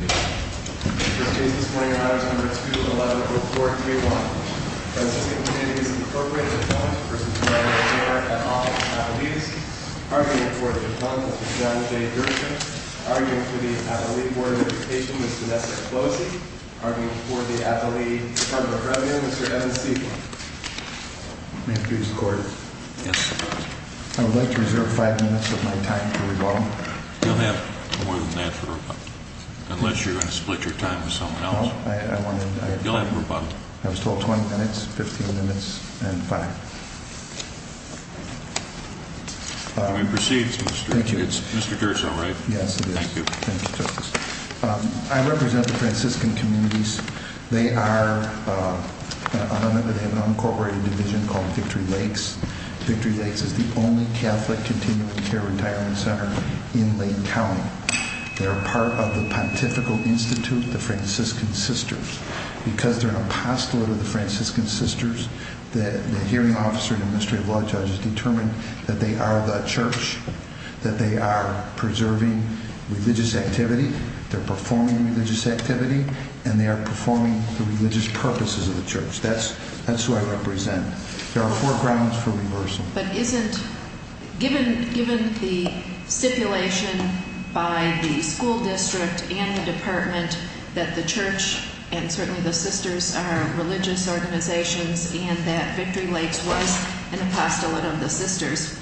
2.11. Report 3.1. Franciscan Communities Incorporated Appellant vs. Department of the Court at Office Appellees Arguing for the Appellant, Mr. John J. Gershom Arguing for the Appellee Board of Education, Mr. Nessar Klose Arguing for the Appellee Department of Revenue, Mr. Evan Segal May it please the Court Yes, Your Honor I would like to reserve five minutes of my time to rebuttal You'll have more than that for rebuttal, unless you're going to split your time with someone else No, I want to You'll have rebuttal I was told 20 minutes, 15 minutes, and five We proceed, Mr. Gershom Thank you It's Mr. Gershom, right? Yes, it is Thank you Thank you, Justice I represent the Franciscan Communities They are, I don't know if they have an incorporated division called Victory Lakes Victory Lakes is the only Catholic continuing care retirement center in Lake County They are part of the Pontifical Institute, the Franciscan Sisters Because they're an apostolate of the Franciscan Sisters, the hearing officer and administrative law judge has determined that they are the church That they are preserving religious activity, they're performing religious activity, and they are performing the religious purposes of the church That's who I represent There are four grounds for reversal But isn't, given the stipulation by the school district and the department that the church and certainly the sisters are religious organizations And that Victory Lakes was an apostolate of the sisters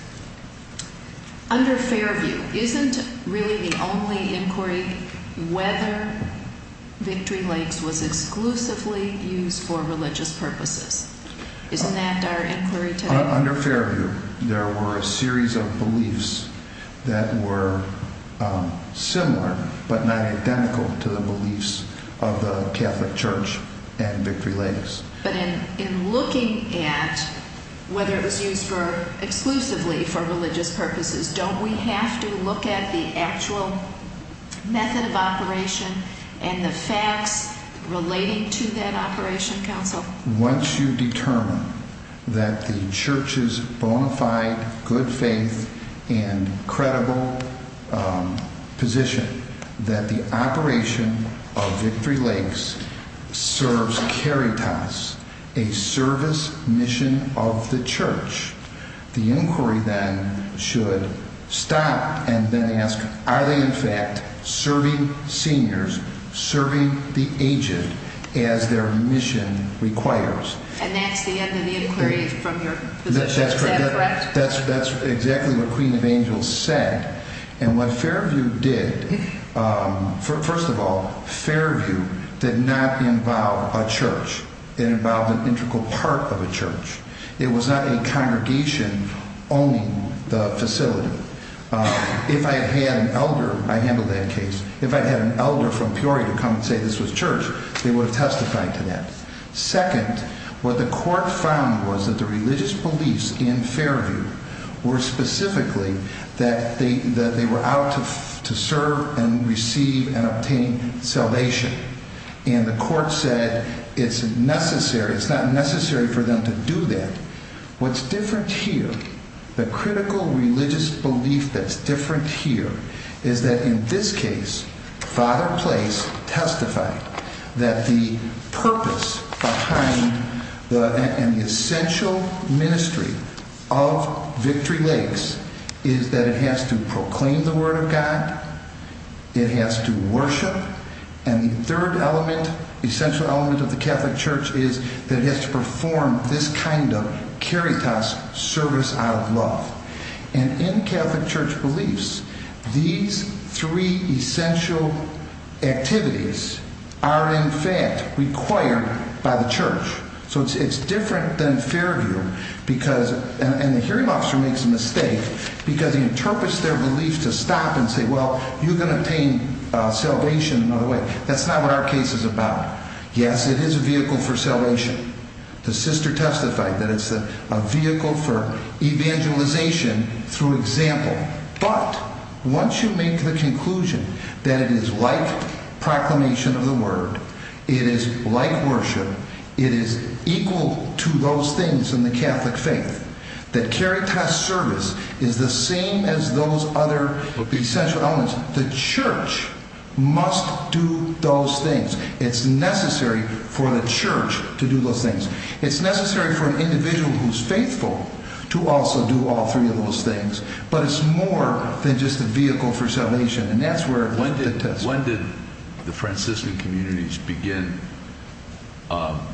Under Fairview, isn't really the only inquiry whether Victory Lakes was exclusively used for religious purposes Isn't that our inquiry today? Under Fairview, there were a series of beliefs that were similar but not identical to the beliefs of the Catholic Church and Victory Lakes But in looking at whether it was used exclusively for religious purposes, don't we have to look at the actual method of operation and the facts relating to that operation, counsel? Once you determine that the church's bona fide, good faith, and credible position That the operation of Victory Lakes serves caritas, a service mission of the church The inquiry then should stop and then ask, are they in fact serving seniors, serving the agent as their mission requires? And that's the end of the inquiry from your position, is that correct? That's exactly what Queen of Angels said And what Fairview did, first of all, Fairview did not involve a church It involved an integral part of a church It was not a congregation owning the facility If I had an elder, I handled that case, if I had an elder from Peoria come and say this was church, they would have testified to that Second, what the court found was that the religious beliefs in Fairview were specifically that they were out to serve and receive and obtain salvation And the court said it's necessary, it's not necessary for them to do that What's different here, the critical religious belief that's different here Is that in this case, Father Place testified that the purpose behind the essential ministry of Victory Lakes is that it has to proclaim the word of God It has to worship, and the third element, essential element of the Catholic Church is that it has to perform this kind of caritas service out of love And in Catholic Church beliefs, these three essential activities are in fact required by the church So it's different than Fairview, and the hearing officer makes a mistake because he interprets their belief to stop and say well, you can obtain salvation another way That's not what our case is about Yes, it is a vehicle for salvation, the sister testified that it's a vehicle for evangelization through example But, once you make the conclusion that it is like proclamation of the word, it is like worship, it is equal to those things in the Catholic faith That caritas service is the same as those other essential elements, the church must do those things It's necessary for the church to do those things It's necessary for an individual who's faithful to also do all three of those things But it's more than just a vehicle for salvation, and that's where the test When did the Franciscan communities begin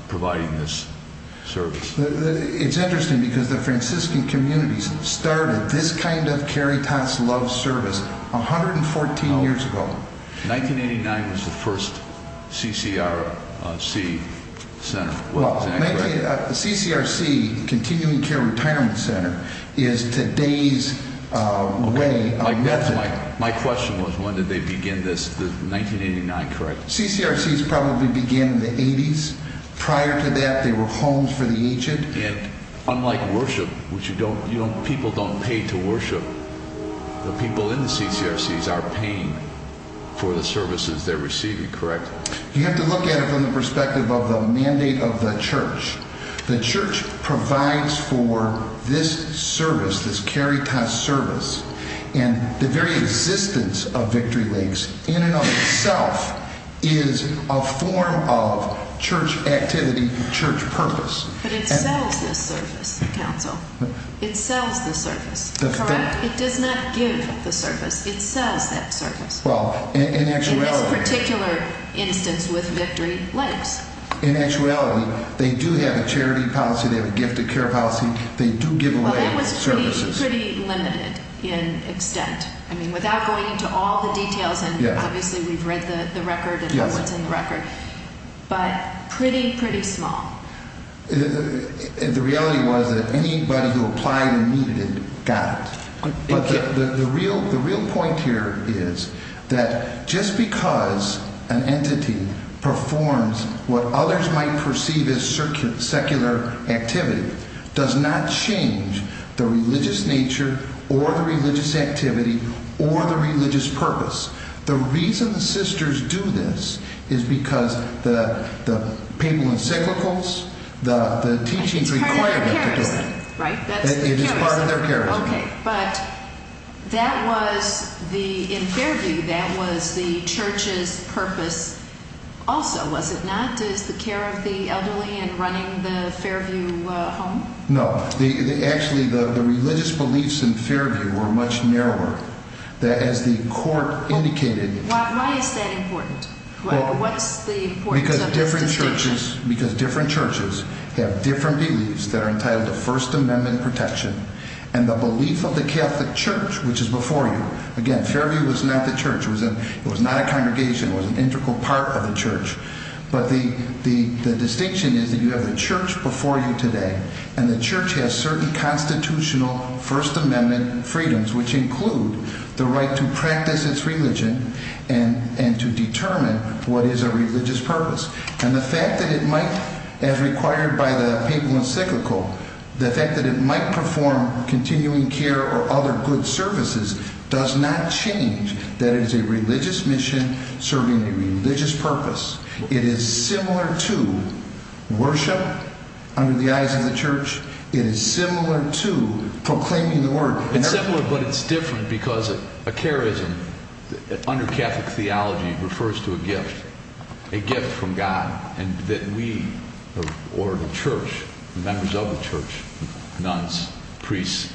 providing this service? It's interesting because the Franciscan communities started this kind of caritas love service 114 years ago 1989 was the first CCRC center The CCRC, Continuing Care Retirement Center, is today's way of method My question was when did they begin this, 1989, correct? CCRC's probably began in the 80's, prior to that they were homes for the ancient Unlike worship, which people don't pay to worship, the people in the CCRC's are paying for the services they're receiving, correct? You have to look at it from the perspective of the mandate of the church The church provides for this service, this caritas service, and the very existence of Victory Lakes in and of itself is a form of church activity, church purpose But it sells this service, counsel, it sells this service, correct? It does not give the service, it sells that service Well, in actuality In this particular instance with Victory Lakes In actuality, they do have a charity policy, they have a gifted care policy, they do give away services Well it was pretty limited in extent, I mean without going into all the details, and obviously we've read the record and what's in the record But pretty, pretty small The reality was that anybody who applied and needed it, got it The real point here is that just because an entity performs what others might perceive as secular activity Does not change the religious nature, or the religious activity, or the religious purpose The reason the sisters do this is because the papal encyclicals, the teachings require them to do it It's part of their charism, right? It is part of their charism Okay, but that was, in Fairview, that was the church's purpose also, was it not? Just the care of the elderly and running the Fairview home? No, actually the religious beliefs in Fairview were much narrower Why is that important? What's the importance of this distinction? Because different churches have different beliefs that are entitled to First Amendment protection And the belief of the Catholic Church, which is before you, again Fairview was not the church, it was not a congregation, it was an integral part of the church But the distinction is that you have the church before you today And the church has certain constitutional First Amendment freedoms, which include the right to practice its religion And to determine what is a religious purpose And the fact that it might, as required by the papal encyclical, the fact that it might perform continuing care or other good services Does not change that it is a religious mission serving a religious purpose It is similar to worship under the eyes of the church It is similar to proclaiming the word It's similar but it's different because a charism, under Catholic theology, refers to a gift A gift from God, and that we, or the church, members of the church, nuns, priests,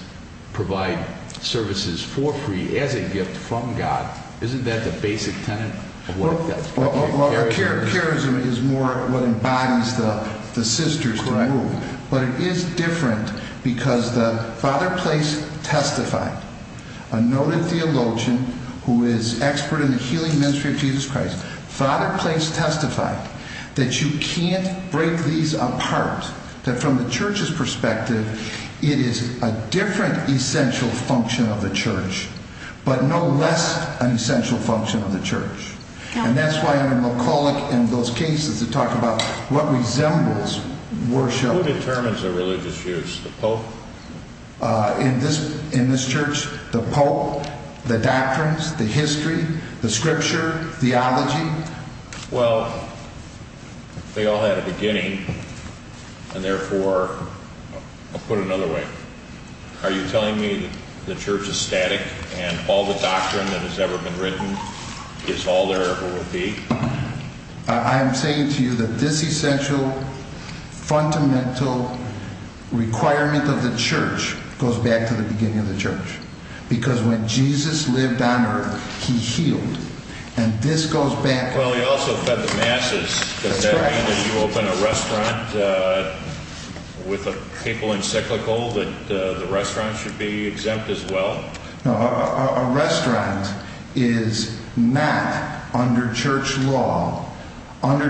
provide services for free as a gift from God Isn't that the basic tenet of what a charism is? Well, a charism is more what embodies the sisters who are moved But it is different because the Father Place testified A noted theologian who is expert in the healing ministry of Jesus Christ Father Place testified that you can't break these apart That from the church's perspective, it is a different essential function of the church But no less an essential function of the church And that's why I'm a McCulloch in those cases that talk about what resembles worship Who determines the religious views? The pope? In this church, the pope, the doctrines, the history, the scripture, theology? Well, they all had a beginning, and therefore, I'll put it another way Are you telling me that the church is static, and all the doctrine that has ever been written is all there ever will be? I am saying to you that this essential, fundamental requirement of the church goes back to the beginning of the church Because when Jesus lived on earth, he healed, and this goes back... Well, he also fed the masses. Does that mean that you open a restaurant with a papal encyclical that the restaurant should be exempt as well? A restaurant is not, under church law, under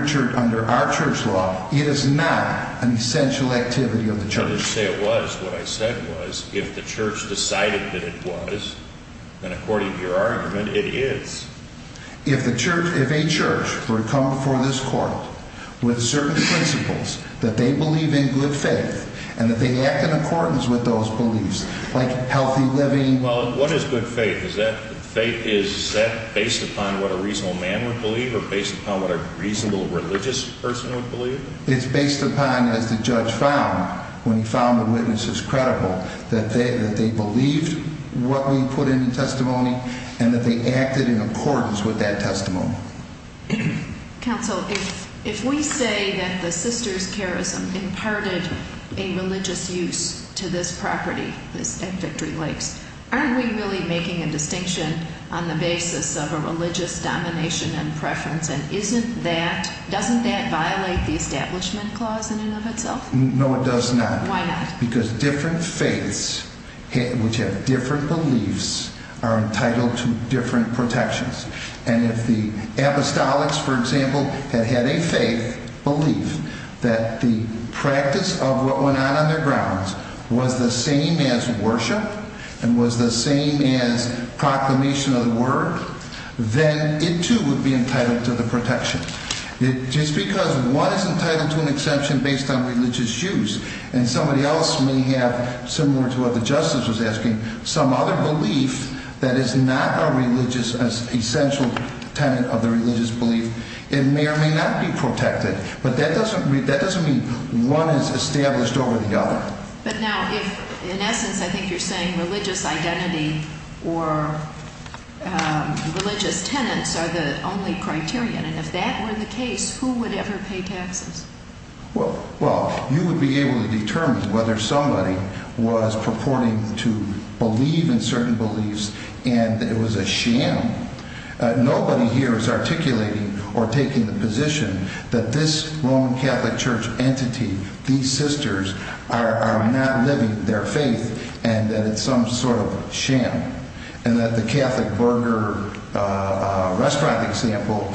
our church law, it is not an essential activity of the church I didn't say it was. What I said was, if the church decided that it was, then according to your argument, it is If a church were to come before this court, with certain principles, that they believe in good faith And that they act in accordance with those beliefs, like healthy living... Well, what is good faith? Is that based upon what a reasonable man would believe, or based upon what a reasonable religious person would believe? It's based upon, as the judge found, when he found the witnesses credible That they believed what we put in the testimony, and that they acted in accordance with that testimony Counsel, if we say that the sister's charism imparted a religious use to this property, at Victory Lakes Aren't we really making a distinction on the basis of a religious domination and preference? And isn't that, doesn't that violate the establishment clause in and of itself? No, it does not Why not? Because different faiths, which have different beliefs, are entitled to different protections And if the apostolics, for example, had had a faith, belief, that the practice of what went on on their grounds Was the same as worship, and was the same as proclamation of the word Then it too would be entitled to the protection Just because one is entitled to an exception based on religious use And somebody else may have, similar to what the justice was asking, some other belief That is not a religious, an essential tenet of the religious belief It may or may not be protected, but that doesn't mean one is established over the other But now, if, in essence, I think you're saying religious identity or religious tenets are the only criterion And if that were the case, who would ever pay taxes? Well, you would be able to determine whether somebody was purporting to believe in certain beliefs And it was a sham Nobody here is articulating or taking the position that this Roman Catholic Church entity, these sisters Are not living their faith, and that it's some sort of sham And that the Catholic Burger restaurant example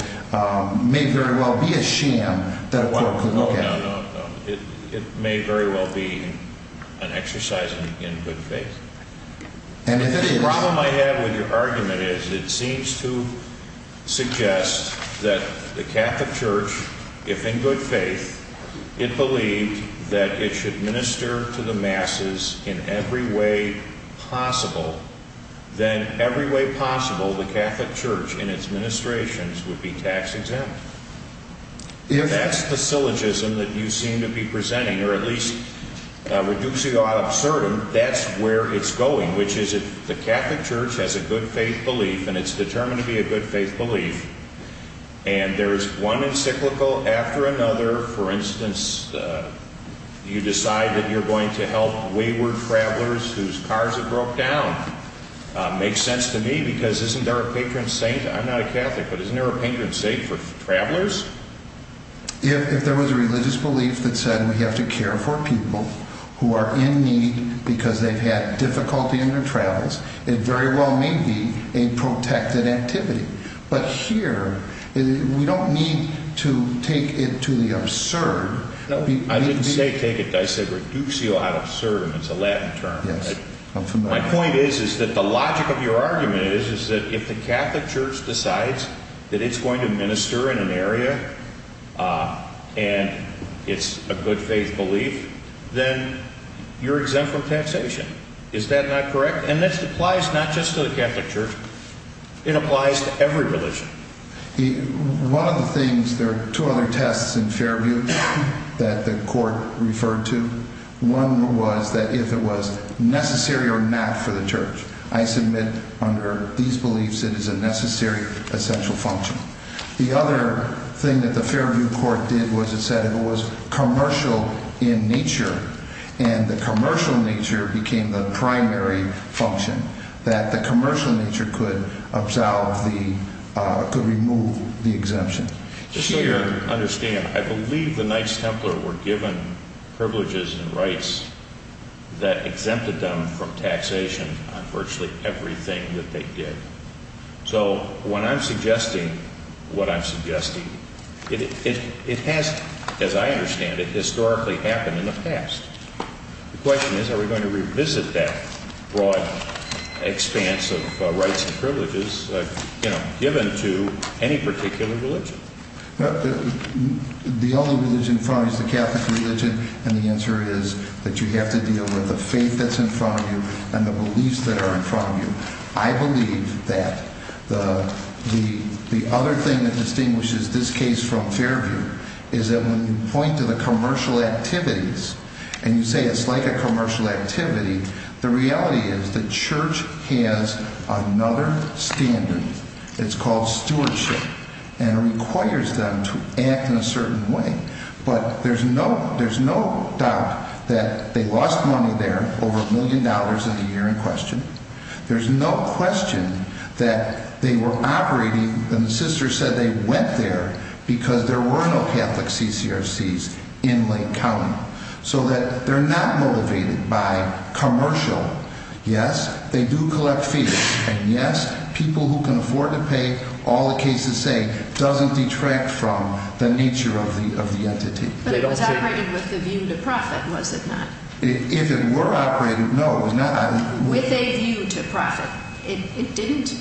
may very well be a sham that a court could look at No, no, no, it may very well be an exercise in good faith The problem I have with your argument is, it seems to suggest that the Catholic Church, if in good faith It believed that it should minister to the masses in every way possible Then, every way possible, the Catholic Church, in its ministrations, would be tax-exempt If that's the syllogism that you seem to be presenting, or at least reducing the odd absurdum That's where it's going, which is if the Catholic Church has a good faith belief And it's determined to be a good faith belief And there's one encyclical after another, for instance You decide that you're going to help wayward travelers whose cars have broke down Makes sense to me, because isn't there a patron saint? I'm not a Catholic, but isn't there a patron saint for travelers? If there was a religious belief that said we have to care for people who are in need Because they've had difficulty in their travels It very well may be a protected activity But here, we don't need to take it to the absurd I didn't say take it, I said reduce the odd absurdum, it's a Latin term My point is that the logic of your argument is that if the Catholic Church decides That it's going to minister in an area, and it's a good faith belief Then, you're exempt from taxation Is that not correct? And this applies not just to the Catholic Church, it applies to every religion One of the things, there are two other tests in Fairview that the court referred to One was that if it was necessary or not for the church I submit under these beliefs it is a necessary essential function The other thing that the Fairview court did was it said it was commercial in nature And the commercial nature became the primary function That the commercial nature could absolve the, could remove the exemption Just so you understand, I believe the Knights Templar were given privileges and rights That exempted them from taxation on virtually everything that they did It has, as I understand it, historically happened in the past The question is are we going to revisit that broad expanse of rights and privileges Given to any particular religion The only religion in front of you is the Catholic religion And the answer is that you have to deal with the faith that's in front of you And the beliefs that are in front of you I believe that the other thing that distinguishes this case from Fairview Is that when you point to the commercial activities And you say it's like a commercial activity The reality is the church has another standard It's called stewardship And it requires them to act in a certain way But there's no doubt that they lost money there Over a million dollars in the year in question There's no question that they were operating And the sisters said they went there Because there were no Catholic CCRCs in Lake County So that they're not motivated by commercial Yes, they do collect fees And yes, people who can afford to pay all the cases say Doesn't detract from the nature of the entity But it was operated with the view to profit, was it not? If it were operated, no With a view to profit It didn't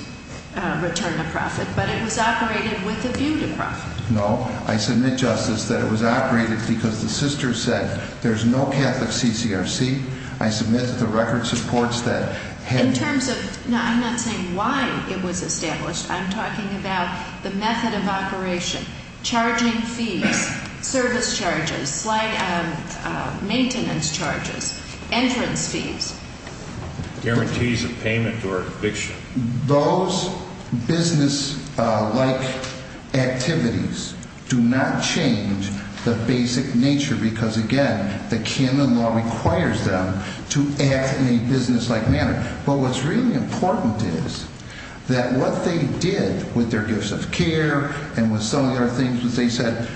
return a profit But it was operated with a view to profit No, I submit, Justice, that it was operated Because the sisters said there's no Catholic CCRC I submit that the record supports that In terms of, no, I'm not saying why it was established I'm talking about the method of operation Charging fees, service charges, maintenance charges Entrance fees Guarantees of payment or eviction Those business-like activities do not change the basic nature Because again, the canon law requires them To act in a business-like manner But what's really important is That what they did with their gifts of care And with some of the other things that they said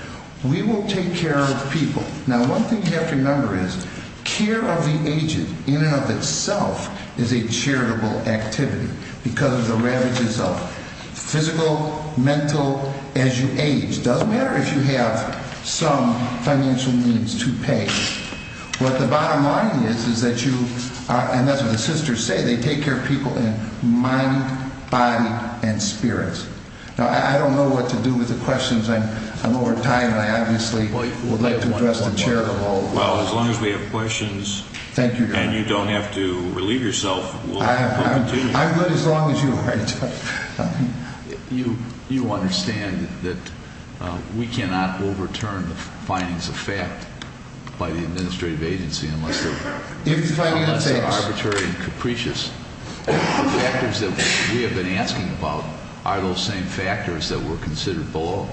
We will take care of people Now one thing you have to remember is Care of the aged in and of itself Is a charitable activity Because of the ravages of physical, mental, as you age It doesn't matter if you have some financial needs to pay What the bottom line is Is that you, and that's what the sisters say They take care of people in mind, body and spirits Now I don't know what to do with the questions I'm over time and I obviously would like to address the charitable Well as long as we have questions And you don't have to relieve yourself We'll continue I'm good as long as you are You understand that we cannot overturn the findings of fact By the administrative agency Unless they're arbitrary and capricious The factors that we have been asking about Are those same factors that were considered below?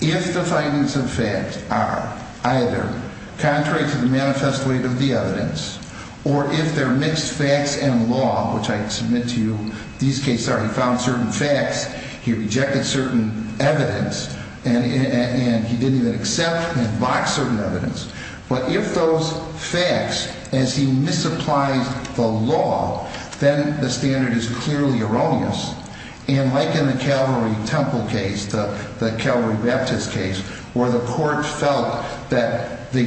If the findings of fact are either Contrary to the manifest weight of the evidence Or if they're mixed facts and law Which I can submit to you These cases are he found certain facts He rejected certain evidence And he didn't even accept and box certain evidence But if those facts, as he misapplies the law Then the standard is clearly erroneous And like in the Calvary Temple case The Calvary Baptist case Where the court felt that the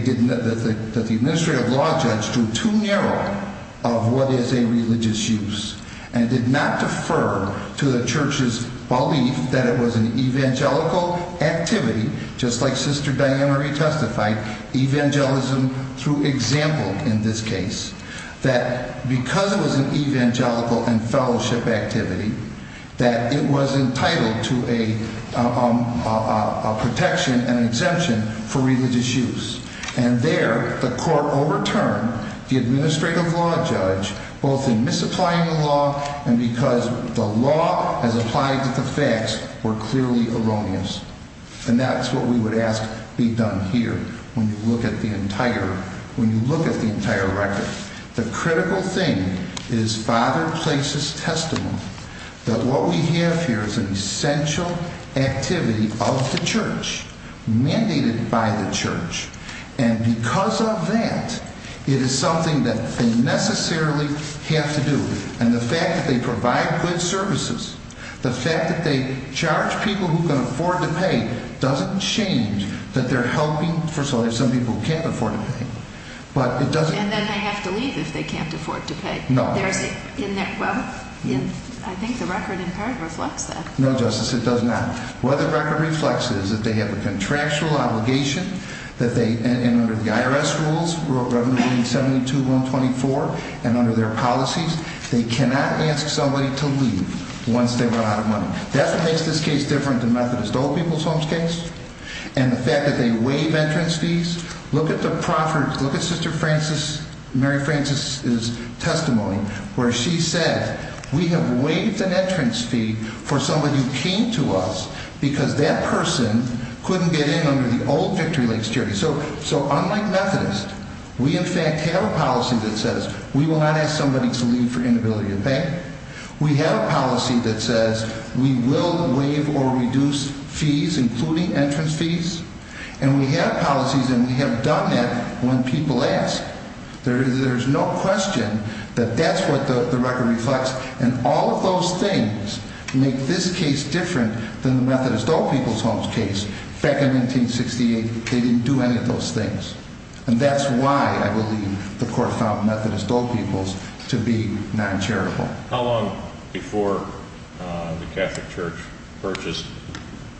administrative law judge Drew too narrow of what is a religious use And did not defer to the church's belief That it was an evangelical activity Just like Sister Diane Marie testified Evangelism through example in this case That because it was an evangelical and fellowship activity That it was entitled to a protection and exemption For religious use And there the court overturned the administrative law judge Both in misapplying the law And because the law as applied to the facts Were clearly erroneous And that's what we would ask be done here The critical thing is Father Place's testimony That what we have here is an essential activity of the church Mandated by the church And because of that It is something that they necessarily have to do And the fact that they provide good services The fact that they charge people who can afford to pay Doesn't change that they're helping For some people who can't afford to pay And then they have to leave if they can't afford to pay I think the record in part reflects that No, Justice, it does not What the record reflects is that they have a contractual obligation And under the IRS rules, Revenue Revenue 72-124 And under their policies They cannot ask somebody to leave once they run out of money That makes this case different than Methodist Old People's Homes case And the fact that they waive entrance fees Look at Sister Mary Frances' testimony Where she said We have waived an entrance fee For somebody who came to us Because that person couldn't get in under the old Victory Lakes Charity So unlike Methodist We in fact have a policy that says We will not ask somebody to leave for inability to pay We have a policy that says We will waive or reduce fees Including entrance fees And we have policies and we have done that when people ask There's no question that that's what the record reflects And all of those things make this case different Than the Methodist Old People's Homes case Back in 1968, they didn't do any of those things And that's why I believe the Court found Methodist Old People's To be non-charitable How long before the Catholic Church purchased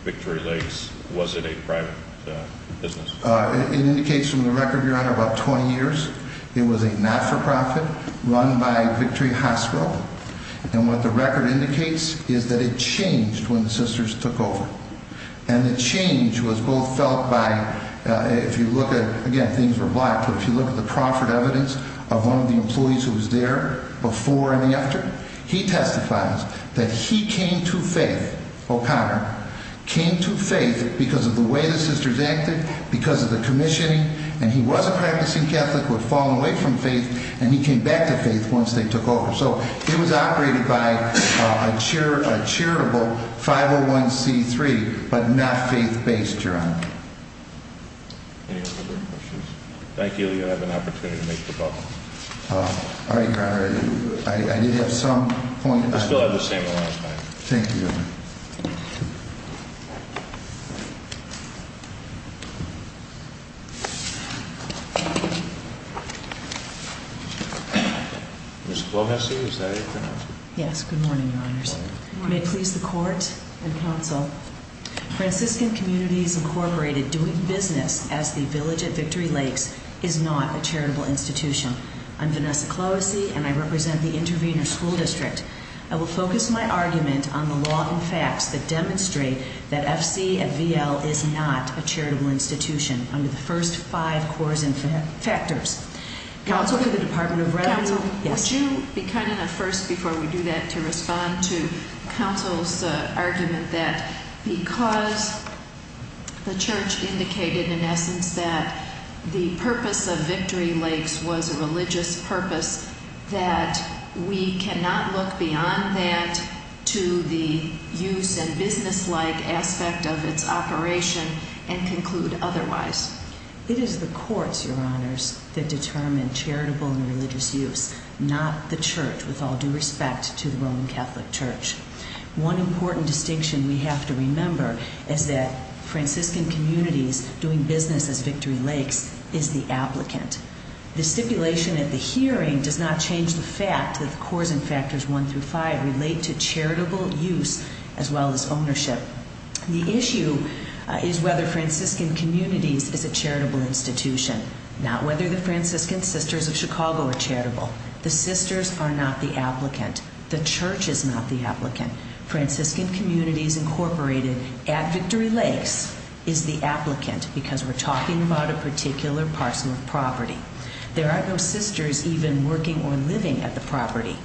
Victory Lakes Was it a private business? It indicates from the record, Your Honor, about 20 years It was a not-for-profit run by Victory Hospital And what the record indicates Is that it changed when the Sisters took over And the change was both felt by If you look at, again, things were blocked But if you look at the proffered evidence Of one of the employees who was there Before and after He testifies that he came to faith O'Connor Came to faith because of the way the Sisters acted Because of the commissioning And he was a practicing Catholic Who had fallen away from faith And he came back to faith once they took over So it was operated by a charitable 501c3 But not faith-based, Your Honor Any other questions? Thank you. You'll have an opportunity to make the call All right, Your Honor I did have some point We still have the same amount of time Thank you, Your Honor Ms. Clohessy, is that it? Yes, good morning, Your Honors May it please the Court and Counsel Franciscan Communities Incorporated doing business As the Village at Victory Lakes Is not a charitable institution I'm Vanessa Clohessy And I represent the Intervenor School District I will focus my argument on the law and facts That demonstrate that F.C. at V.L. Is not a charitable institution Under the first five cores and factors Counsel for the Department of Revenue Counsel, would you be kind enough first Before we do that to respond to Counsel's argument That because the Church indicated in essence That the purpose of Victory Lakes Was a religious purpose That we cannot look beyond that To the use and business-like aspect of its operation And conclude otherwise It is the courts, Your Honors That determine charitable and religious use Not the Church, with all due respect To the Roman Catholic Church One important distinction we have to remember Is that Franciscan Communities Doing business as Victory Lakes Is the applicant The stipulation at the hearing Does not change the fact that The cores and factors one through five Relate to charitable use as well as ownership The issue is whether Franciscan Communities Is a charitable institution Not whether the Franciscan Sisters of Chicago Are charitable The Sisters are not the applicant The Church is not the applicant Franciscan Communities, Incorporated At Victory Lakes Is the applicant Because we're talking about a particular parcel of property There are no sisters Even working or living at the property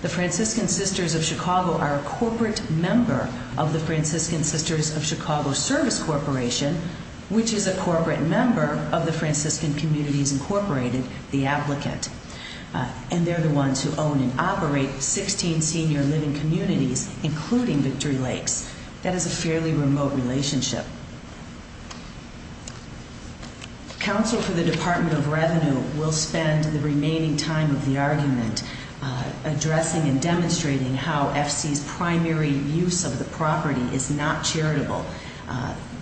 The Franciscan Sisters of Chicago Are a corporate member Of the Franciscan Sisters of Chicago Service Corporation Which is a corporate member Of the Franciscan Communities, Incorporated The applicant And they're the ones who own and operate Sixteen senior living communities Including Victory Lakes That is a fairly remote relationship Counsel for the Department of Revenue Will spend the remaining time Of the argument Addressing and demonstrating How FC's primary use of the property Is not charitable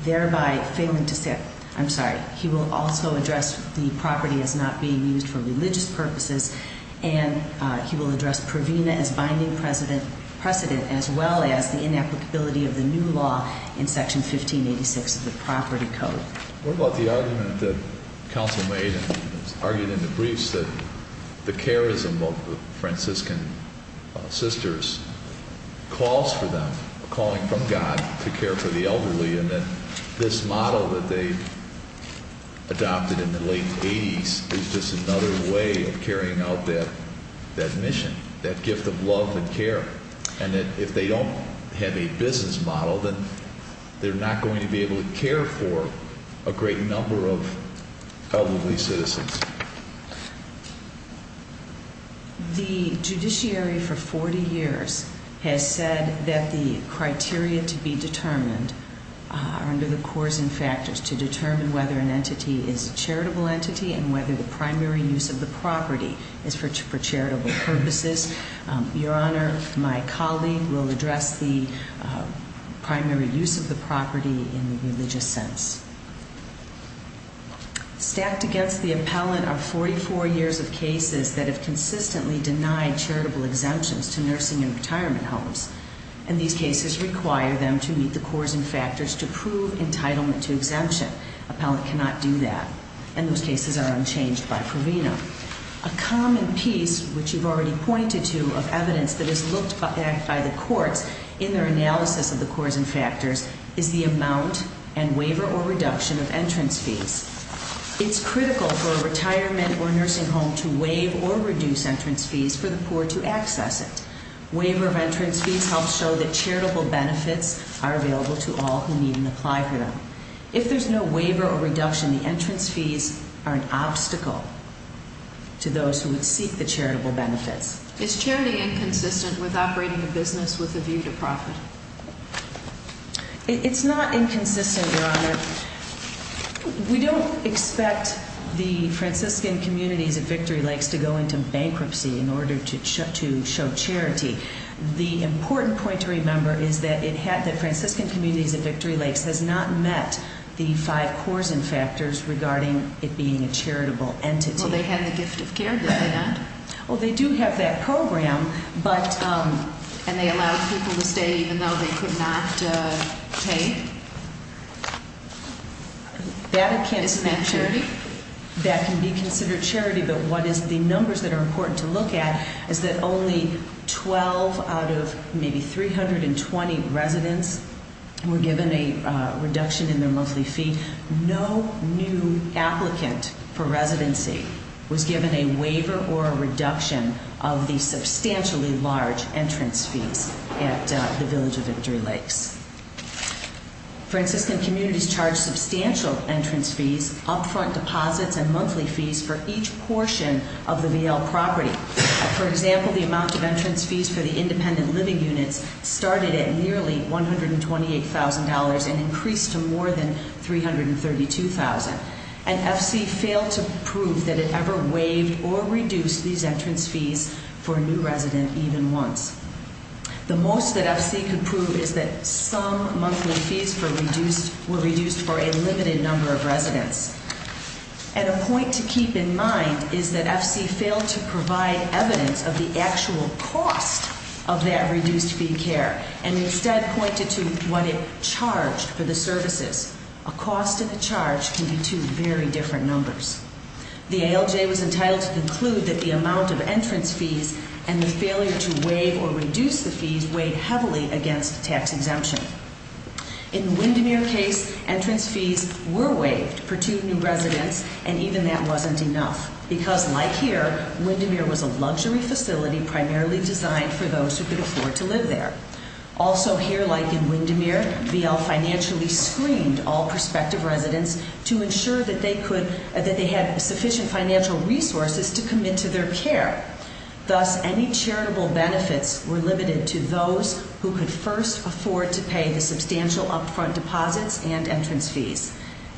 Thereby failing to say I'm sorry, he will also address The property as not being used For religious purposes And he will address Provena As binding precedent As well as the inapplicability Of the new law in section 1586 Of the property code What about the argument that Counsel made and argued in the briefs That the charism of the Franciscan Sisters Calls for them Calling from God To care for the elderly And that this model that they Adopted in the late 80s Is just another way of carrying out That mission That gift of love and care And that if they don't Have a business model They're not going to be able to care for A great number of Elderly citizens The judiciary For 40 years Has said that the criteria To be determined Are under the course and factors To determine whether an entity Is a charitable entity And whether the primary use of the property Is for charitable purposes Your honor My colleague will address the Primary use of the property In the religious sense Stacked against the appellant Are 44 years of cases that have Consistently denied charitable exemptions To nursing and retirement homes And these cases require them To meet the course and factors To prove entitlement to exemption Appellant cannot do that And those cases are unchanged By Provena A common piece which you've already pointed to Of evidence that is looked at By the courts in their analysis Of the course and factors Is the amount and waiver or reduction Of entrance fees It's critical for a retirement or nursing home To waive or reduce entrance fees For the poor to access it Waiver of entrance fees helps show That charitable benefits are available To all who need and apply for them If there's no waiver or reduction The entrance fees are an obstacle To those who would seek The charitable benefits Is charity inconsistent with operating a business With a view to profit? It's not inconsistent Your honor We don't expect The Franciscan communities At Victory Lakes to go into bankruptcy In order to show charity The important point to remember Is that it had The fact that Franciscan communities At Victory Lakes has not met The five course and factors Regarding it being a charitable entity Well they had the gift of care Did they not? Well they do have that program And they allowed people to stay Even though they could not pay? Isn't that charity? That can be considered charity But what is the numbers That are important to look at Is that only 12 out of Maybe 320 residents Were given a Reduction in their monthly fee No new applicant For residency Was given a waiver or a reduction Of the substantially large Entrance fees At the Village of Victory Lakes Franciscan communities Charge substantial entrance fees Upfront deposits and monthly fees For each portion of the VL property For example the amount of Entrance fees for the independent living units Started at nearly $128,000 and increased To more than $332,000 And FC failed to Prove that it ever waived Or reduced these entrance fees For a new resident even once The most that FC could prove Is that some monthly fees Were reduced for a Limited number of residents And a point to keep in mind Is that FC failed to provide Evidence of the actual cost Of that reduced fee care And instead pointed to what It charged for the services A cost and a charge can be Two very different numbers The ALJ was entitled to conclude That the amount of entrance fees And the failure to waive or reduce The fees weighed heavily against Tax exemption In the Windermere case, entrance fees Were waived for two new residents And even that wasn't enough Because like here, Windermere was a Luxury facility primarily designed For those who could afford to live there Also here like in Windermere VL financially screened All prospective residents to ensure That they had sufficient Financial resources to commit To their care, thus any Charitable benefits were limited To those who could first afford To pay the substantial upfront Deposits and entrance fees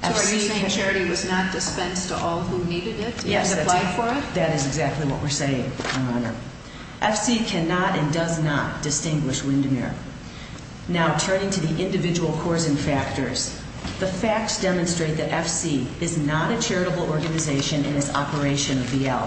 So are you saying charity was not Dispensed to all who needed it And applied for it? Yes that is exactly what we're saying FC cannot and does not distinguish Windermere Now turning to the individual Causing factors, the facts Demonstrate that FC is not a Charitable organization in its Operation of VL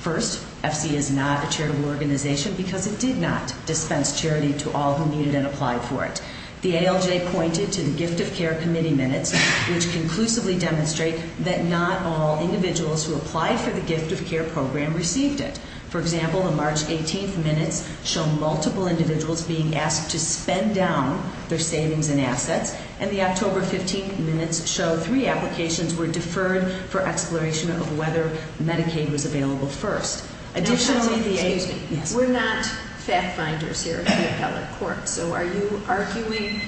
First, FC is not a charitable Organization because it did not Dispense charity to all who needed It and applied for it. The ALJ Pointed to the gift of care committee minutes Which conclusively demonstrate That not all individuals who Applied for the gift of care program received It. For example, the March 18th Minutes show multiple individuals Being asked to spend down Their savings and assets and the October 15th minutes show three Applications were deferred for Exploration of whether Medicaid was Available first. Additionally We're not Fact finders here at the appellate Court so are you arguing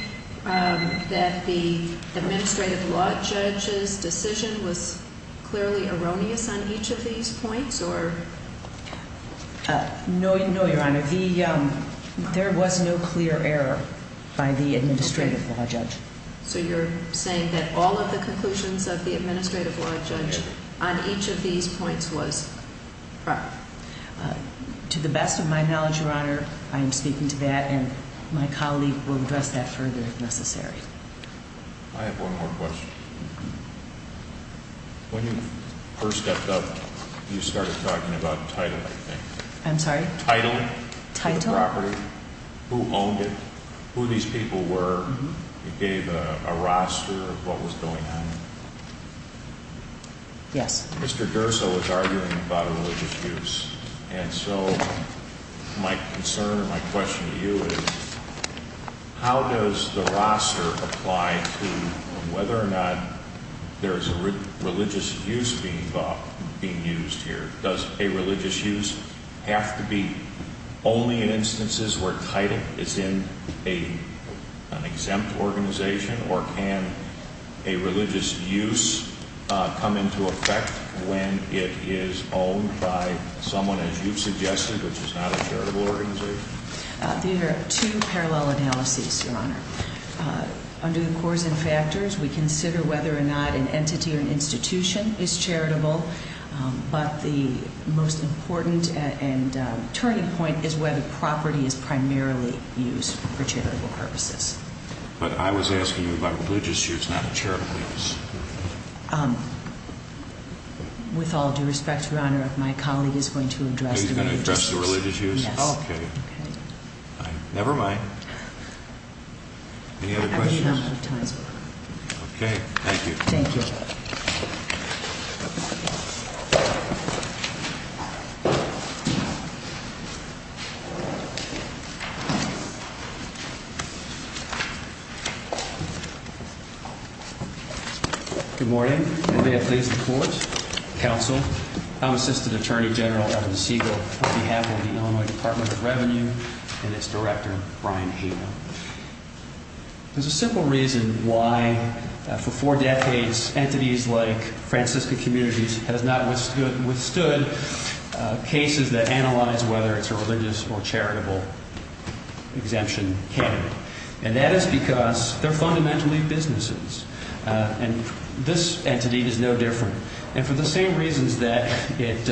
That the Administrative law judge's Decision was clearly erroneous On each of these points or No Your honor There was no clear error By the administrative law judge So you're saying that all of The conclusions of the administrative law judge On each of these points Was proper To the best of my knowledge Your honor I am speaking to that And my colleague will address that Further if necessary I have one more question When you First stepped up you started Talking about title I think I'm sorry title title property Who owned it Who these people were Gave a roster of what was Going on Yes Mr. Durso was arguing about Religious use and so My concern My question to you is How does the roster Apply to whether or not There's a religious Use being Used here does a religious use Have to be only In instances where title Is in an Exempt organization or can A religious use Come into effect When it is owned by Someone as you suggested Which is not a charitable organization These are two parallel analyses Your honor Under the cores and factors we consider Whether or not an entity or an institution Is charitable But the most important And turning point is whether Property is primarily used For charitable purposes But I was asking you about religious use Which is not a charitable use With all due respect your honor My colleague is going to address Religious use Never mind Any other questions Okay Thank you Good morning May it please the court Counsel I'm Assistant Attorney General Evan Siegel On behalf of the Illinois Department of Revenue And its director Brian Hager There's a simple reason Why for four decades Entities like Francisca Communities has not Withstood cases That analyze whether it's a religious Or charitable Exemption candidate And that is because They're fundamentally businesses And this entity is no different And for the same reasons that It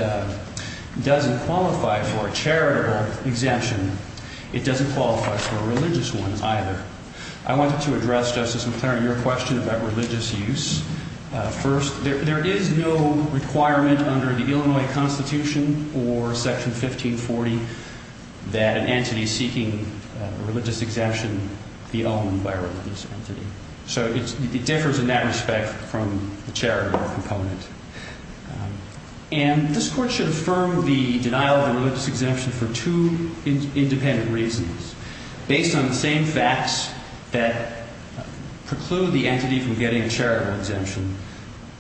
doesn't qualify For a charitable exemption It doesn't qualify For a religious one either I wanted to address Justice McClaren Your question about religious use First there is no requirement Under the Illinois Constitution Or section 1540 That an entity seeking A religious exemption be owned By a religious entity So it differs in that respect From the charitable component And this court Should affirm the denial of a religious Exemption for two independent Reasons Based on the same facts that Preclude the entity from getting A charitable exemption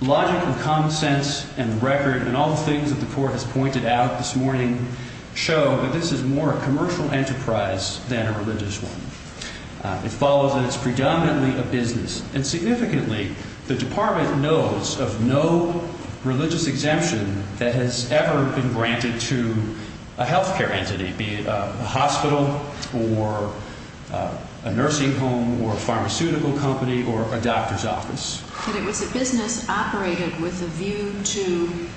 Logic and common sense and the record And all the things that the court has pointed out This morning show that this is More a commercial enterprise Than a religious one It follows that it's predominantly a business And significantly the department Knows of no Religious exemption that has Ever been granted to A healthcare entity be it a hospital Or A nursing home or a pharmaceutical Company or a doctor's office And it was a business operated With a view to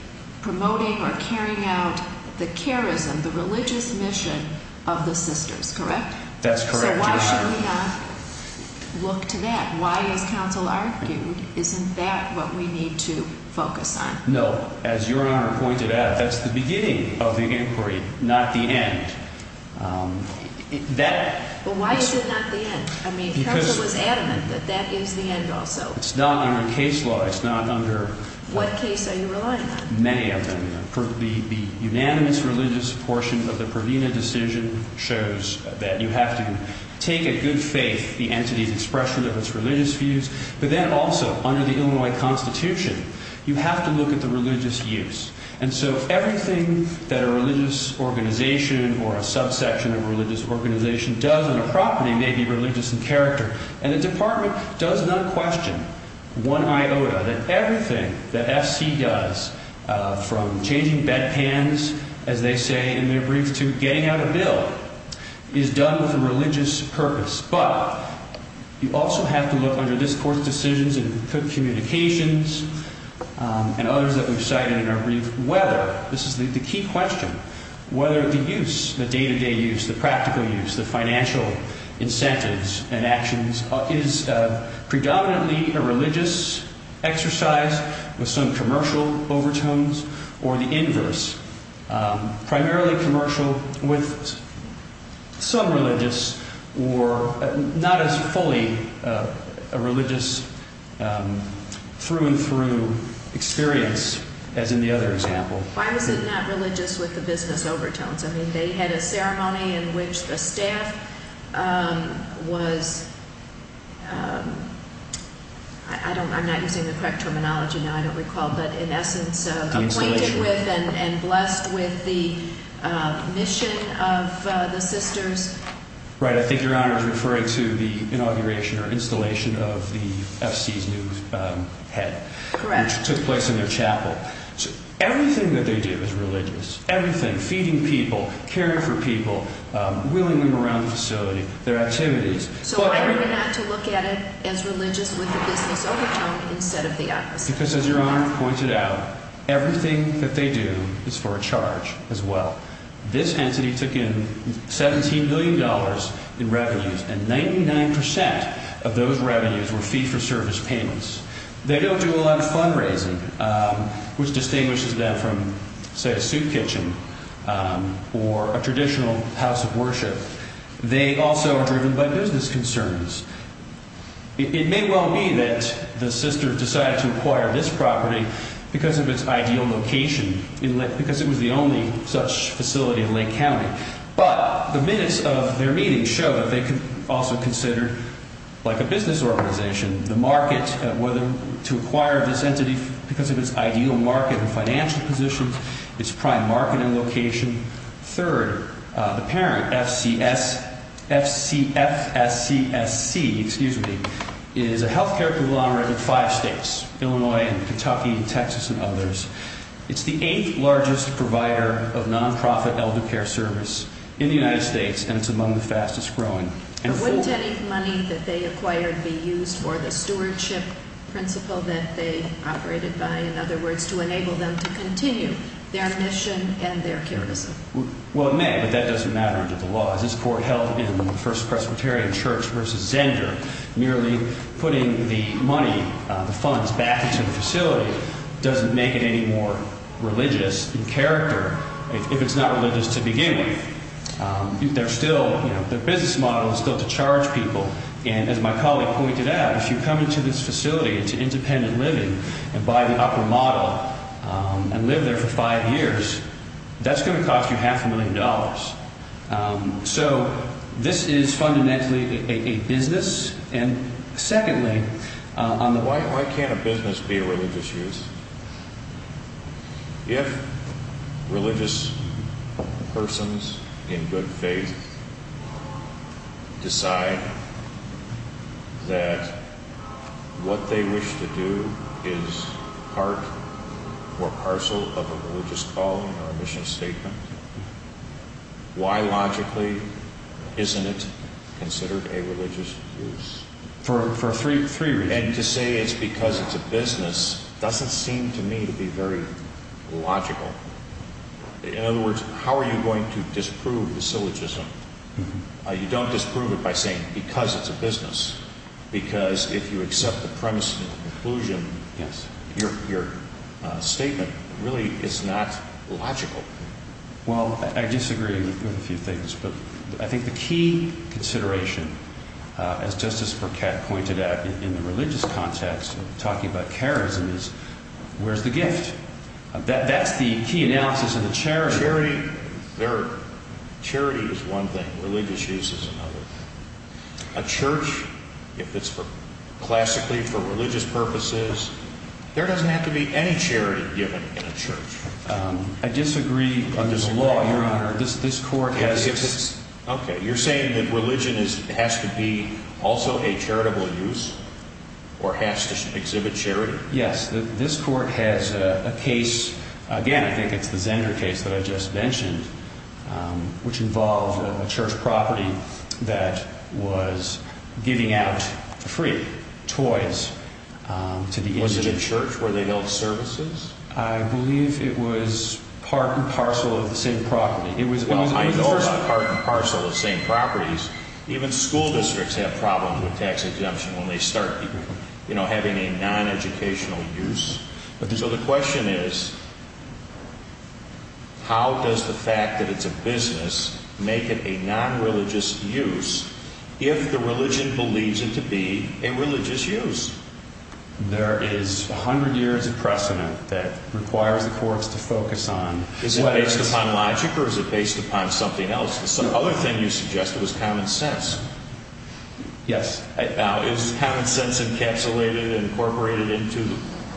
Promoting or carrying out The charism, the religious mission Of the sisters, correct? That's correct, Your Honor So why should we not look to that? Why, as counsel argued, isn't that What we need to focus on? No, as Your Honor pointed out That's the beginning of the inquiry Not the end That But why is it not the end? Counsel was adamant that that is the end also It's not under case law What case are you relying on? Many of them The unanimous religious portion of the Provena decision shows that You have to take a good faith In the entity's expression of its religious views But then also under the Illinois Constitution You have to look at the religious use And so everything that a religious Organization or a subsection Of a religious organization does on a property May be religious in character And the department does not question One iota that everything That FC does From changing bedpans As they say in their brief To getting out a bill Is done with a religious purpose But you also have to look Under this Court's decisions And communications And others that we've cited in our brief Whether, this is the key question Whether the use, the day-to-day use The practical use, the financial Incentives and actions Is predominantly A religious exercise With some commercial overtones Or the inverse Primarily commercial With some religious Or not as fully A religious Through and through Experience As in the other example Why was it not religious with the business overtones? I mean, they had a ceremony In which the staff Was I don't I'm not using the correct terminology now I don't recall, but in essence Appointed with and blessed With the mission Of the sisters Right, I think your Honor Is referring to the inauguration Or installation of the FC's new Head Which took place in their chapel Everything that they do is religious Everything, feeding people, caring for people Wheeling them around the facility Their activities So why were they not to look at it as religious With the business overtones instead of the opposite? Because as your Honor pointed out Everything that they do Is for a charge as well This entity took in 17 billion dollars in revenues And 99% of those revenues Were fee-for-service payments They don't do a lot of fundraising Which distinguishes them from Say a soup kitchen Or a traditional House of worship They also are driven by business concerns It may well be that The sisters decided to Acquire this property because of its Ideal location Because it was the only such facility In Lake County But the minutes of their meetings show that they Also considered like a business Organization, the market Whether to acquire this entity Because of its ideal market and financial Position, its prime marketing location Third, the parent FCS FSCSC Is a healthcare Group of five states Illinois, Kentucky, Texas and others It's the eighth largest provider Of non-profit elder care service In the United States And it's among the fastest growing Wouldn't any money that they acquired Be used for the stewardship Principle that they operated by In other words to enable them to continue Their mission and their charism Well it may but that doesn't matter Under the law as this court held in the First Presbyterian Church versus Zenger Merely putting the Money, the funds back into the Facility doesn't make it any more Religious in character If it's not religious to begin with They're still Their business model is still to charge people And as my colleague pointed out If you come into this facility Into independent living and buy the upper Model and live there for five Years that's going to cost you Half a million dollars So this is Fundamentally a business And secondly Why can't a business be a religious Use? If Religious persons In good faith Decide That What they wish to do Is part Or parcel of a religious calling Or a mission statement Why logically Isn't it considered A religious use? For three reasons And to say it's because it's a business Doesn't seem to me to be very Logical In other words how are you going to Disprove the syllogism You don't disprove it by saying Because it's a business Because if you accept The premise of the conclusion Your statement Really is not logical Well I disagree With a few things but I think The key consideration As Justice Burkett pointed out In the religious context Talking about charism is Where's the gift? That's the key analysis of the charity Charity Is one thing religious use is another A church If it's for Classically for religious purposes There doesn't have to be any charity Given in a church I disagree under the law This court Okay you're saying that religion Has to be also a charitable use Or has to exhibit Charity Yes this court has a case Again I think it's the Zender case That I just mentioned Which involved A church property That was giving out Free toys Was it a church Where they held services I believe it was part and parcel Of the same property Well I know about part and parcel Of the same properties Even school districts have problems With tax exemption when they start Having a non-educational use So the question is How does the fact That it's a business Make it a non-religious use If the religion believes It to be a religious use There is A hundred years of precedent That requires the courts to focus on Is it based upon logic Or is it based upon something else The other thing you suggested was common sense Yes Now is common sense encapsulated And incorporated into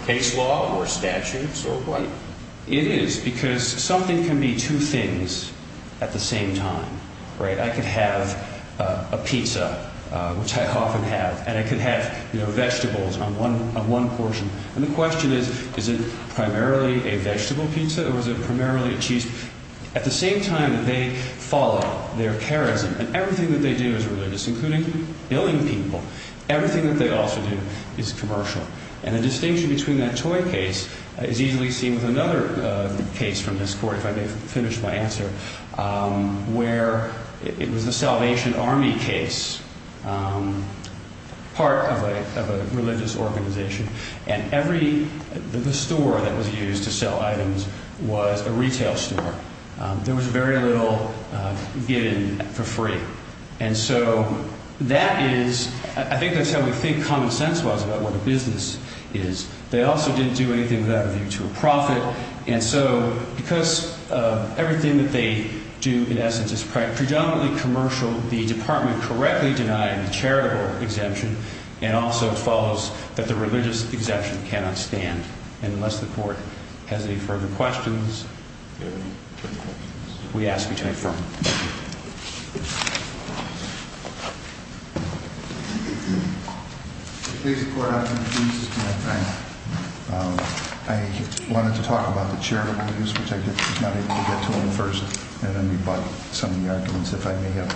case law Or statutes or what It is because something can be two things At the same time Right I could have A pizza Which I often have And I could have vegetables on one portion And the question is Is it primarily a vegetable pizza Or is it primarily a cheese pizza At the same time they follow their charism And everything that they do is religious Including billing people Everything that they also do is commercial And the distinction between that toy case Is easily seen with another Case from this court If I may finish my answer Where it was the Salvation Army case Part of a Religious organization And every The store that was used to sell items Was a retail store There was very little Given for free And so that is I think that is how we think common sense was About what a business is They also didn't do anything without a view to a profit And so Because everything that they Do in essence is predominantly commercial The department correctly denied The charitable exemption And also follows that the religious Exemption cannot stand And unless the court has any further questions We ask you to affirm Thank you I wanted to talk about the charitable use Which I was not able to get to in the first And then we brought some of the arguments If I may have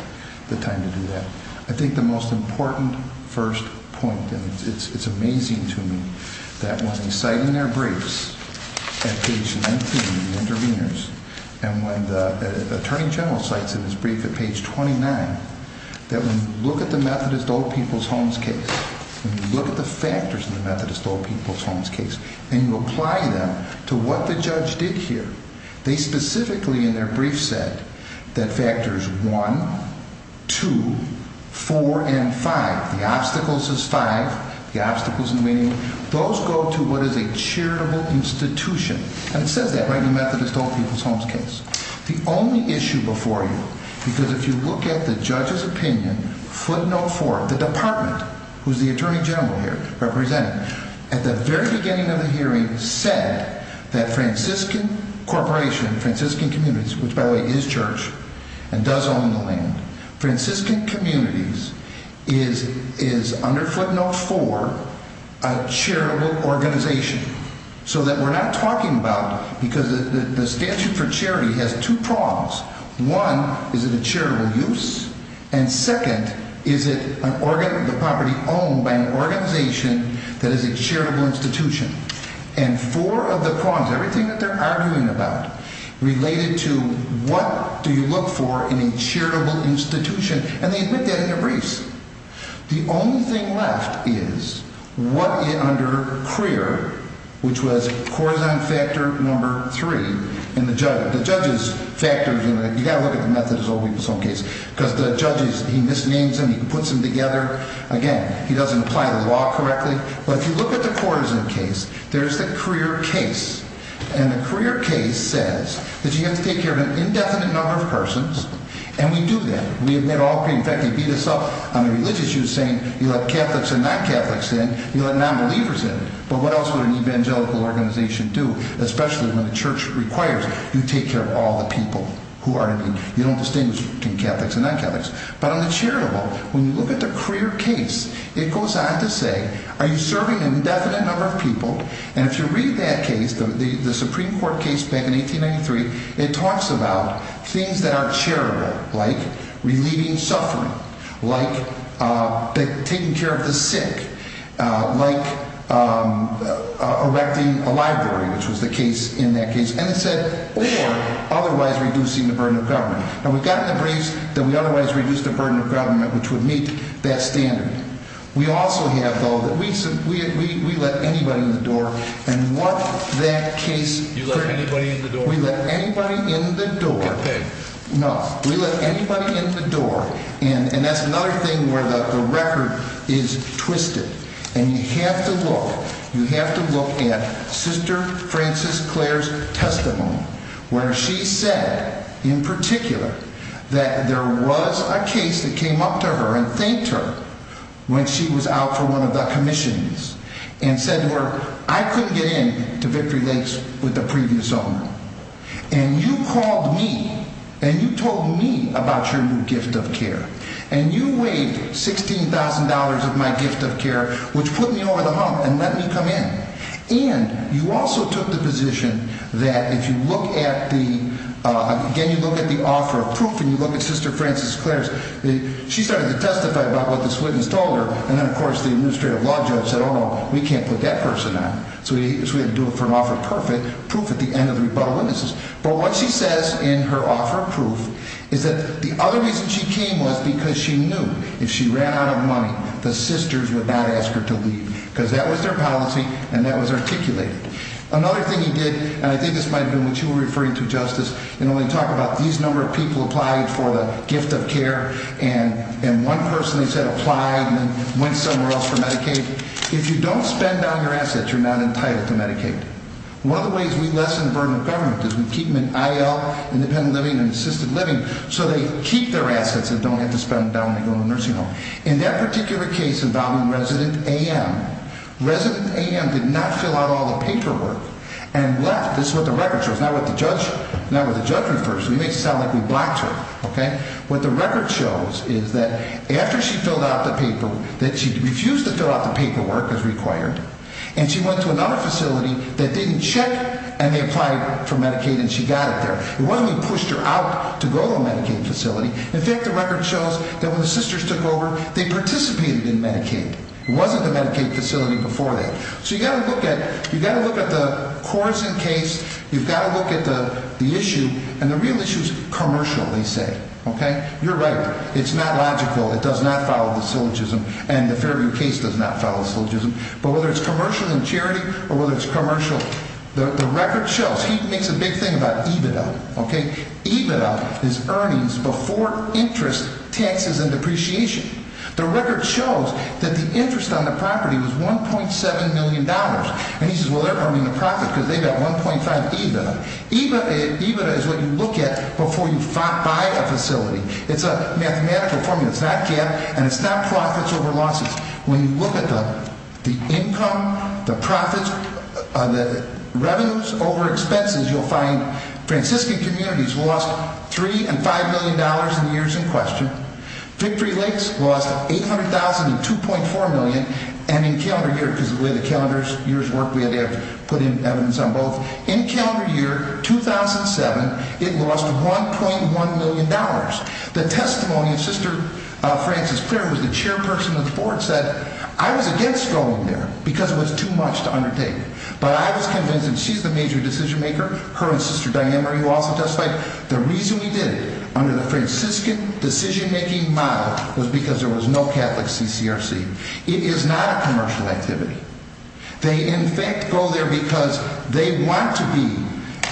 the time to do that I think the most important first point And it's amazing to me That when they cite in their briefs At page 19 The interveners And when the Attorney General Cites in his brief at page 29 That when you look at the Methodist Old People's Homes case When you look at the factors In the Methodist Old People's Homes case And you apply them To what the judge did here They specifically in their brief said That factors 1 2 4 and 5 The obstacles is 5 Those go to what is a charitable institution And it says that Right in the Methodist Old People's Homes case The only issue before you Because if you look at the judge's opinion Footnote 4 The department who is the Attorney General here Represented At the very beginning of the hearing said That Franciscan Corporation Franciscan Communities Which by the way is church And does own the land Franciscan Communities Is under footnote 4 A charitable organization So that we're not talking about Because the statute for charity Has two prongs One is it a charitable use And second is it The property owned by an organization That is a charitable institution And four of the prongs Everything that they're arguing about Related to what Do you look for in a charitable institution And they admit that in their briefs The only thing left Is what Under CREER Which was Corazon Factor number 3 And the judge's You gotta look at the method Because the judge He misnames them, he puts them together Again, he doesn't apply the law correctly But if you look at the Corazon case There's the CREER case And the CREER case says That you have to take care of an indefinite number of persons And we do that In fact he beat us up On the religious use saying You let Catholics and non-Catholics in You let non-believers in But what else would an evangelical organization do Especially when the church requires You take care of all the people Who are to be You don't distinguish between Catholics and non-Catholics But on the charitable When you look at the CREER case It goes on to say Are you serving an indefinite number of people And if you read that case The Supreme Court case back in 1893 It talks about things that are charitable Like relieving suffering Like taking care of the sick Like Erecting a library Which was the case in that case And it said or Otherwise reducing the burden of government And we've gotten the briefs that we otherwise reduced the burden of government Which would meet that standard We also have though We let anybody in the door And what that case You let anybody in the door We let anybody in the door No, we let anybody in the door And that's another thing Where the record is twisted And you have to look You have to look at Sister Frances Clare's testimony Where she said In particular That there was a case that came up to her And thanked her When she was out for one of the commissions And said to her I couldn't get in to Victory Lakes With the previous owner And you called me And you told me about your new gift of care And you waived $16,000 of my gift of care Which put me over the hump And let me come in And you also took the position That if you look at the Again you look at the offer of proof And you look at Sister Frances Clare's She started to testify about what this witness told her And then of course the administrative law judge said Oh no, we can't put that person on So we had to do it for an offer of proof At the end of the rebuttal witnesses But what she says in her offer of proof Is that the other reason she came Was because she knew If she ran out of money The sisters would not ask her to leave Because that was their policy And that was articulated Another thing he did And I think this might have been what you were referring to Justice When we talk about these number of people Applied for the gift of care And one person they said applied And went somewhere else for Medicaid If you don't spend on your assets You're not entitled to Medicaid One of the ways we lessen the burden of government Is we keep them in IL Independent living and assisted living So they keep their assets and don't have to spend them Down in the nursing home In that particular case involving Resident AM Resident AM did not fill out All the paperwork And left, this is what the record shows Not what the judge, not what the judge refers We may sound like we blocked her What the record shows is that After she filled out the paperwork That she refused to fill out the paperwork as required And she went to another facility That didn't check And they applied for Medicaid and she got it there It wasn't that we pushed her out to go to the Medicaid facility In fact the record shows That when the sisters took over They participated in Medicaid It wasn't the Medicaid facility before that So you've got to look at the Correson case You've got to look at the issue And the real issue is commercial they say You're right, it's not logical It does not follow the syllogism And the Fairview case does not follow the syllogism But whether it's commercial and charity Or whether it's commercial The record shows, he makes a big thing about EBITDA EBITDA is earnings Before interest Taxes and depreciation The record shows that the interest On the property was 1.7 million dollars And he says well they're earning a profit Because they've got 1.5 EBITDA EBITDA is what you look at Before you buy a facility It's a mathematical formula It's not profits over losses When you look at the Income, the profits The revenues over expenses You'll find Franciscan communities lost 3 and 5 million dollars in years in question Victory Lakes lost 800,000 and 2.4 million And in calendar year Because of the calendar year's work We had to put in evidence on both In calendar year 2007 It lost 1.1 million dollars The testimony of Sister Frances Claire who was the chairperson of the board Said I was against going there Because it was too much to undertake But I was convinced And she's the major decision maker Her and Sister Diane Marie who also testified The reason we did it Under the Franciscan decision making model Was because there was no Catholic CCRC It is not a commercial activity They in fact go there because They want to be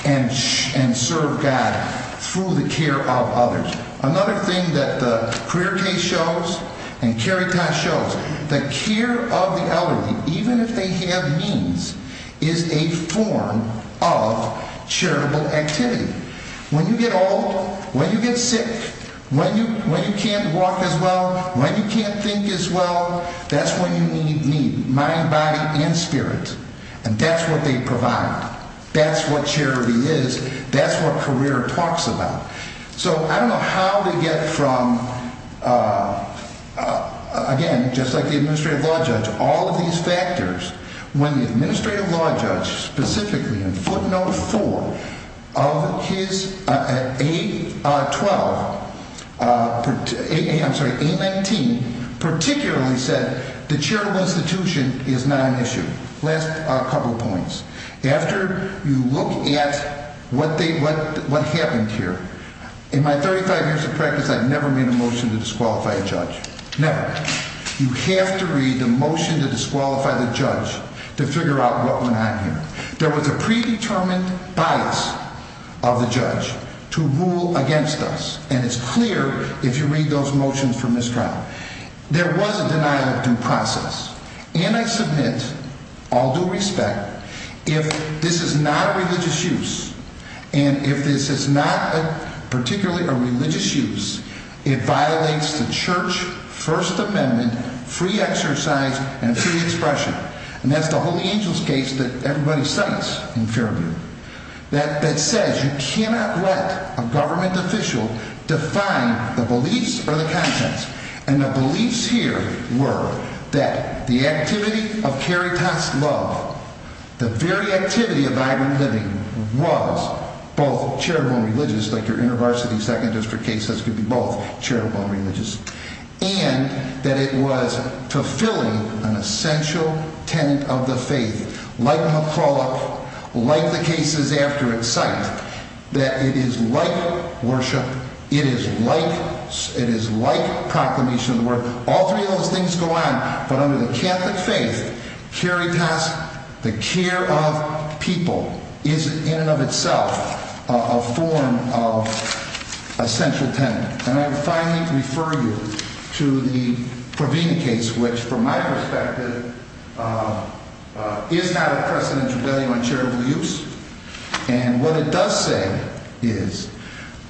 And serve God Through the care of others Another thing that the Career case shows The care of the elderly Even if they have means Is a form of Charitable activity When you get old When you get sick When you can't walk as well When you can't think as well That's when you need Mind, body and spirit And that's what they provide That's what charity is That's what career talks about So I don't know how to get From Again just like the Administrative Law Judge All of these factors When the Administrative Law Judge Specifically in footnote 4 Of his A12 I'm sorry, A19 Particularly said The charitable institution is not an issue Last couple points After you look at What happened here In my 35 years of practice I've never made a motion to disqualify a judge Never You have to read the motion to disqualify the judge To figure out what went on here There was a predetermined Bias of the judge To rule against us And it's clear if you read those motions From this trial There was a denial of due process And I submit All due respect If this is not a religious use And if this is not Particularly a religious use It violates the church First amendment Free exercise and free expression And that's the holy angels case That everybody cites in Fairview That says you cannot Let a government official Define the beliefs Or the contents And the beliefs here Were that the activity Of caritas love The very activity of vibrant living Was both Charitable and religious Like your inner varsity second district case Could be both charitable and religious And that it was fulfilling An essential tenet of the faith Like McCulloch Like the cases after it's cite That it is like Worship It is like It is like proclamation of the word All three of those things go on But under the catholic faith Caritas, the care of people Is in and of itself A form of Essential tenet And I finally refer you To the Provina case Which from my perspective Is not a Precedential value on charitable use And what it does say Is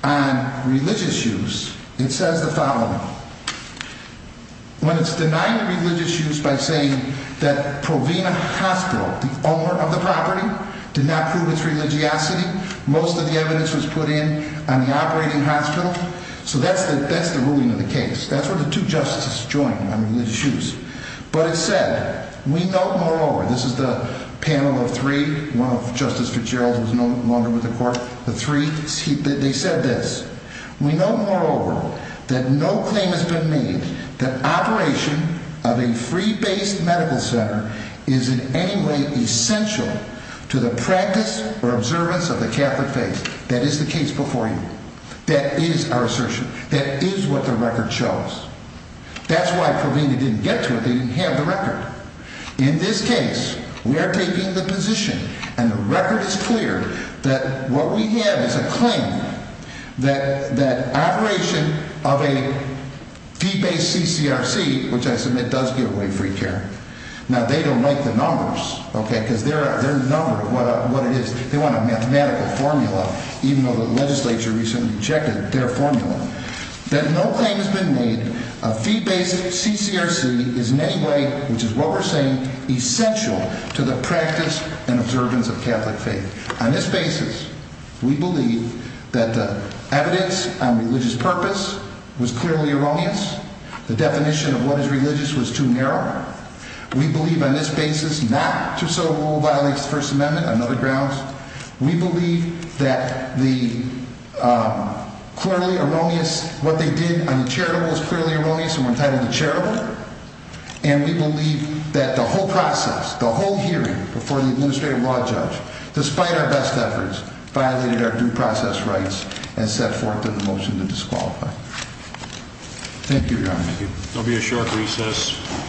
on Religious use It says the following When it's denying religious use By saying that Provina Hospital, the owner of the property Did not prove its religiosity Most of the evidence was put in On the operating hospital So that's the ruling of the case That's where the two justices join On religious use But it said, we note moreover This is the panel of three One of Justice Fitzgerald Who is no longer with the court They said this We note moreover That no claim has been made That operation of a free-based medical center Is in any way essential To the practice Or observance of the catholic faith That is the case before you That is our assertion That is what the record shows That's why Provina didn't get to it They didn't have the record In this case We are taking the position And the record is clear That what we have is a claim That operation Of a Free-based CCRC Which I submit does give away free care Now they don't like the numbers Because their number, what it is They want a mathematical formula Even though the legislature recently checked Their formula That no claim has been made That operation of free-based CCRC Is in any way Which is what we are saying Essential to the practice And observance of catholic faith On this basis We believe that the evidence On religious purpose Was clearly erroneous The definition of what is religious Was too narrow We believe on this basis Not to so violates the first amendment On other grounds We believe that The Clearly erroneous What they did on the charitable Was clearly erroneous And we believe that the whole process The whole hearing Before the administrative law judge Despite our best efforts Violated our due process rights And set forth a motion to disqualify Thank you your honor There will be a short recess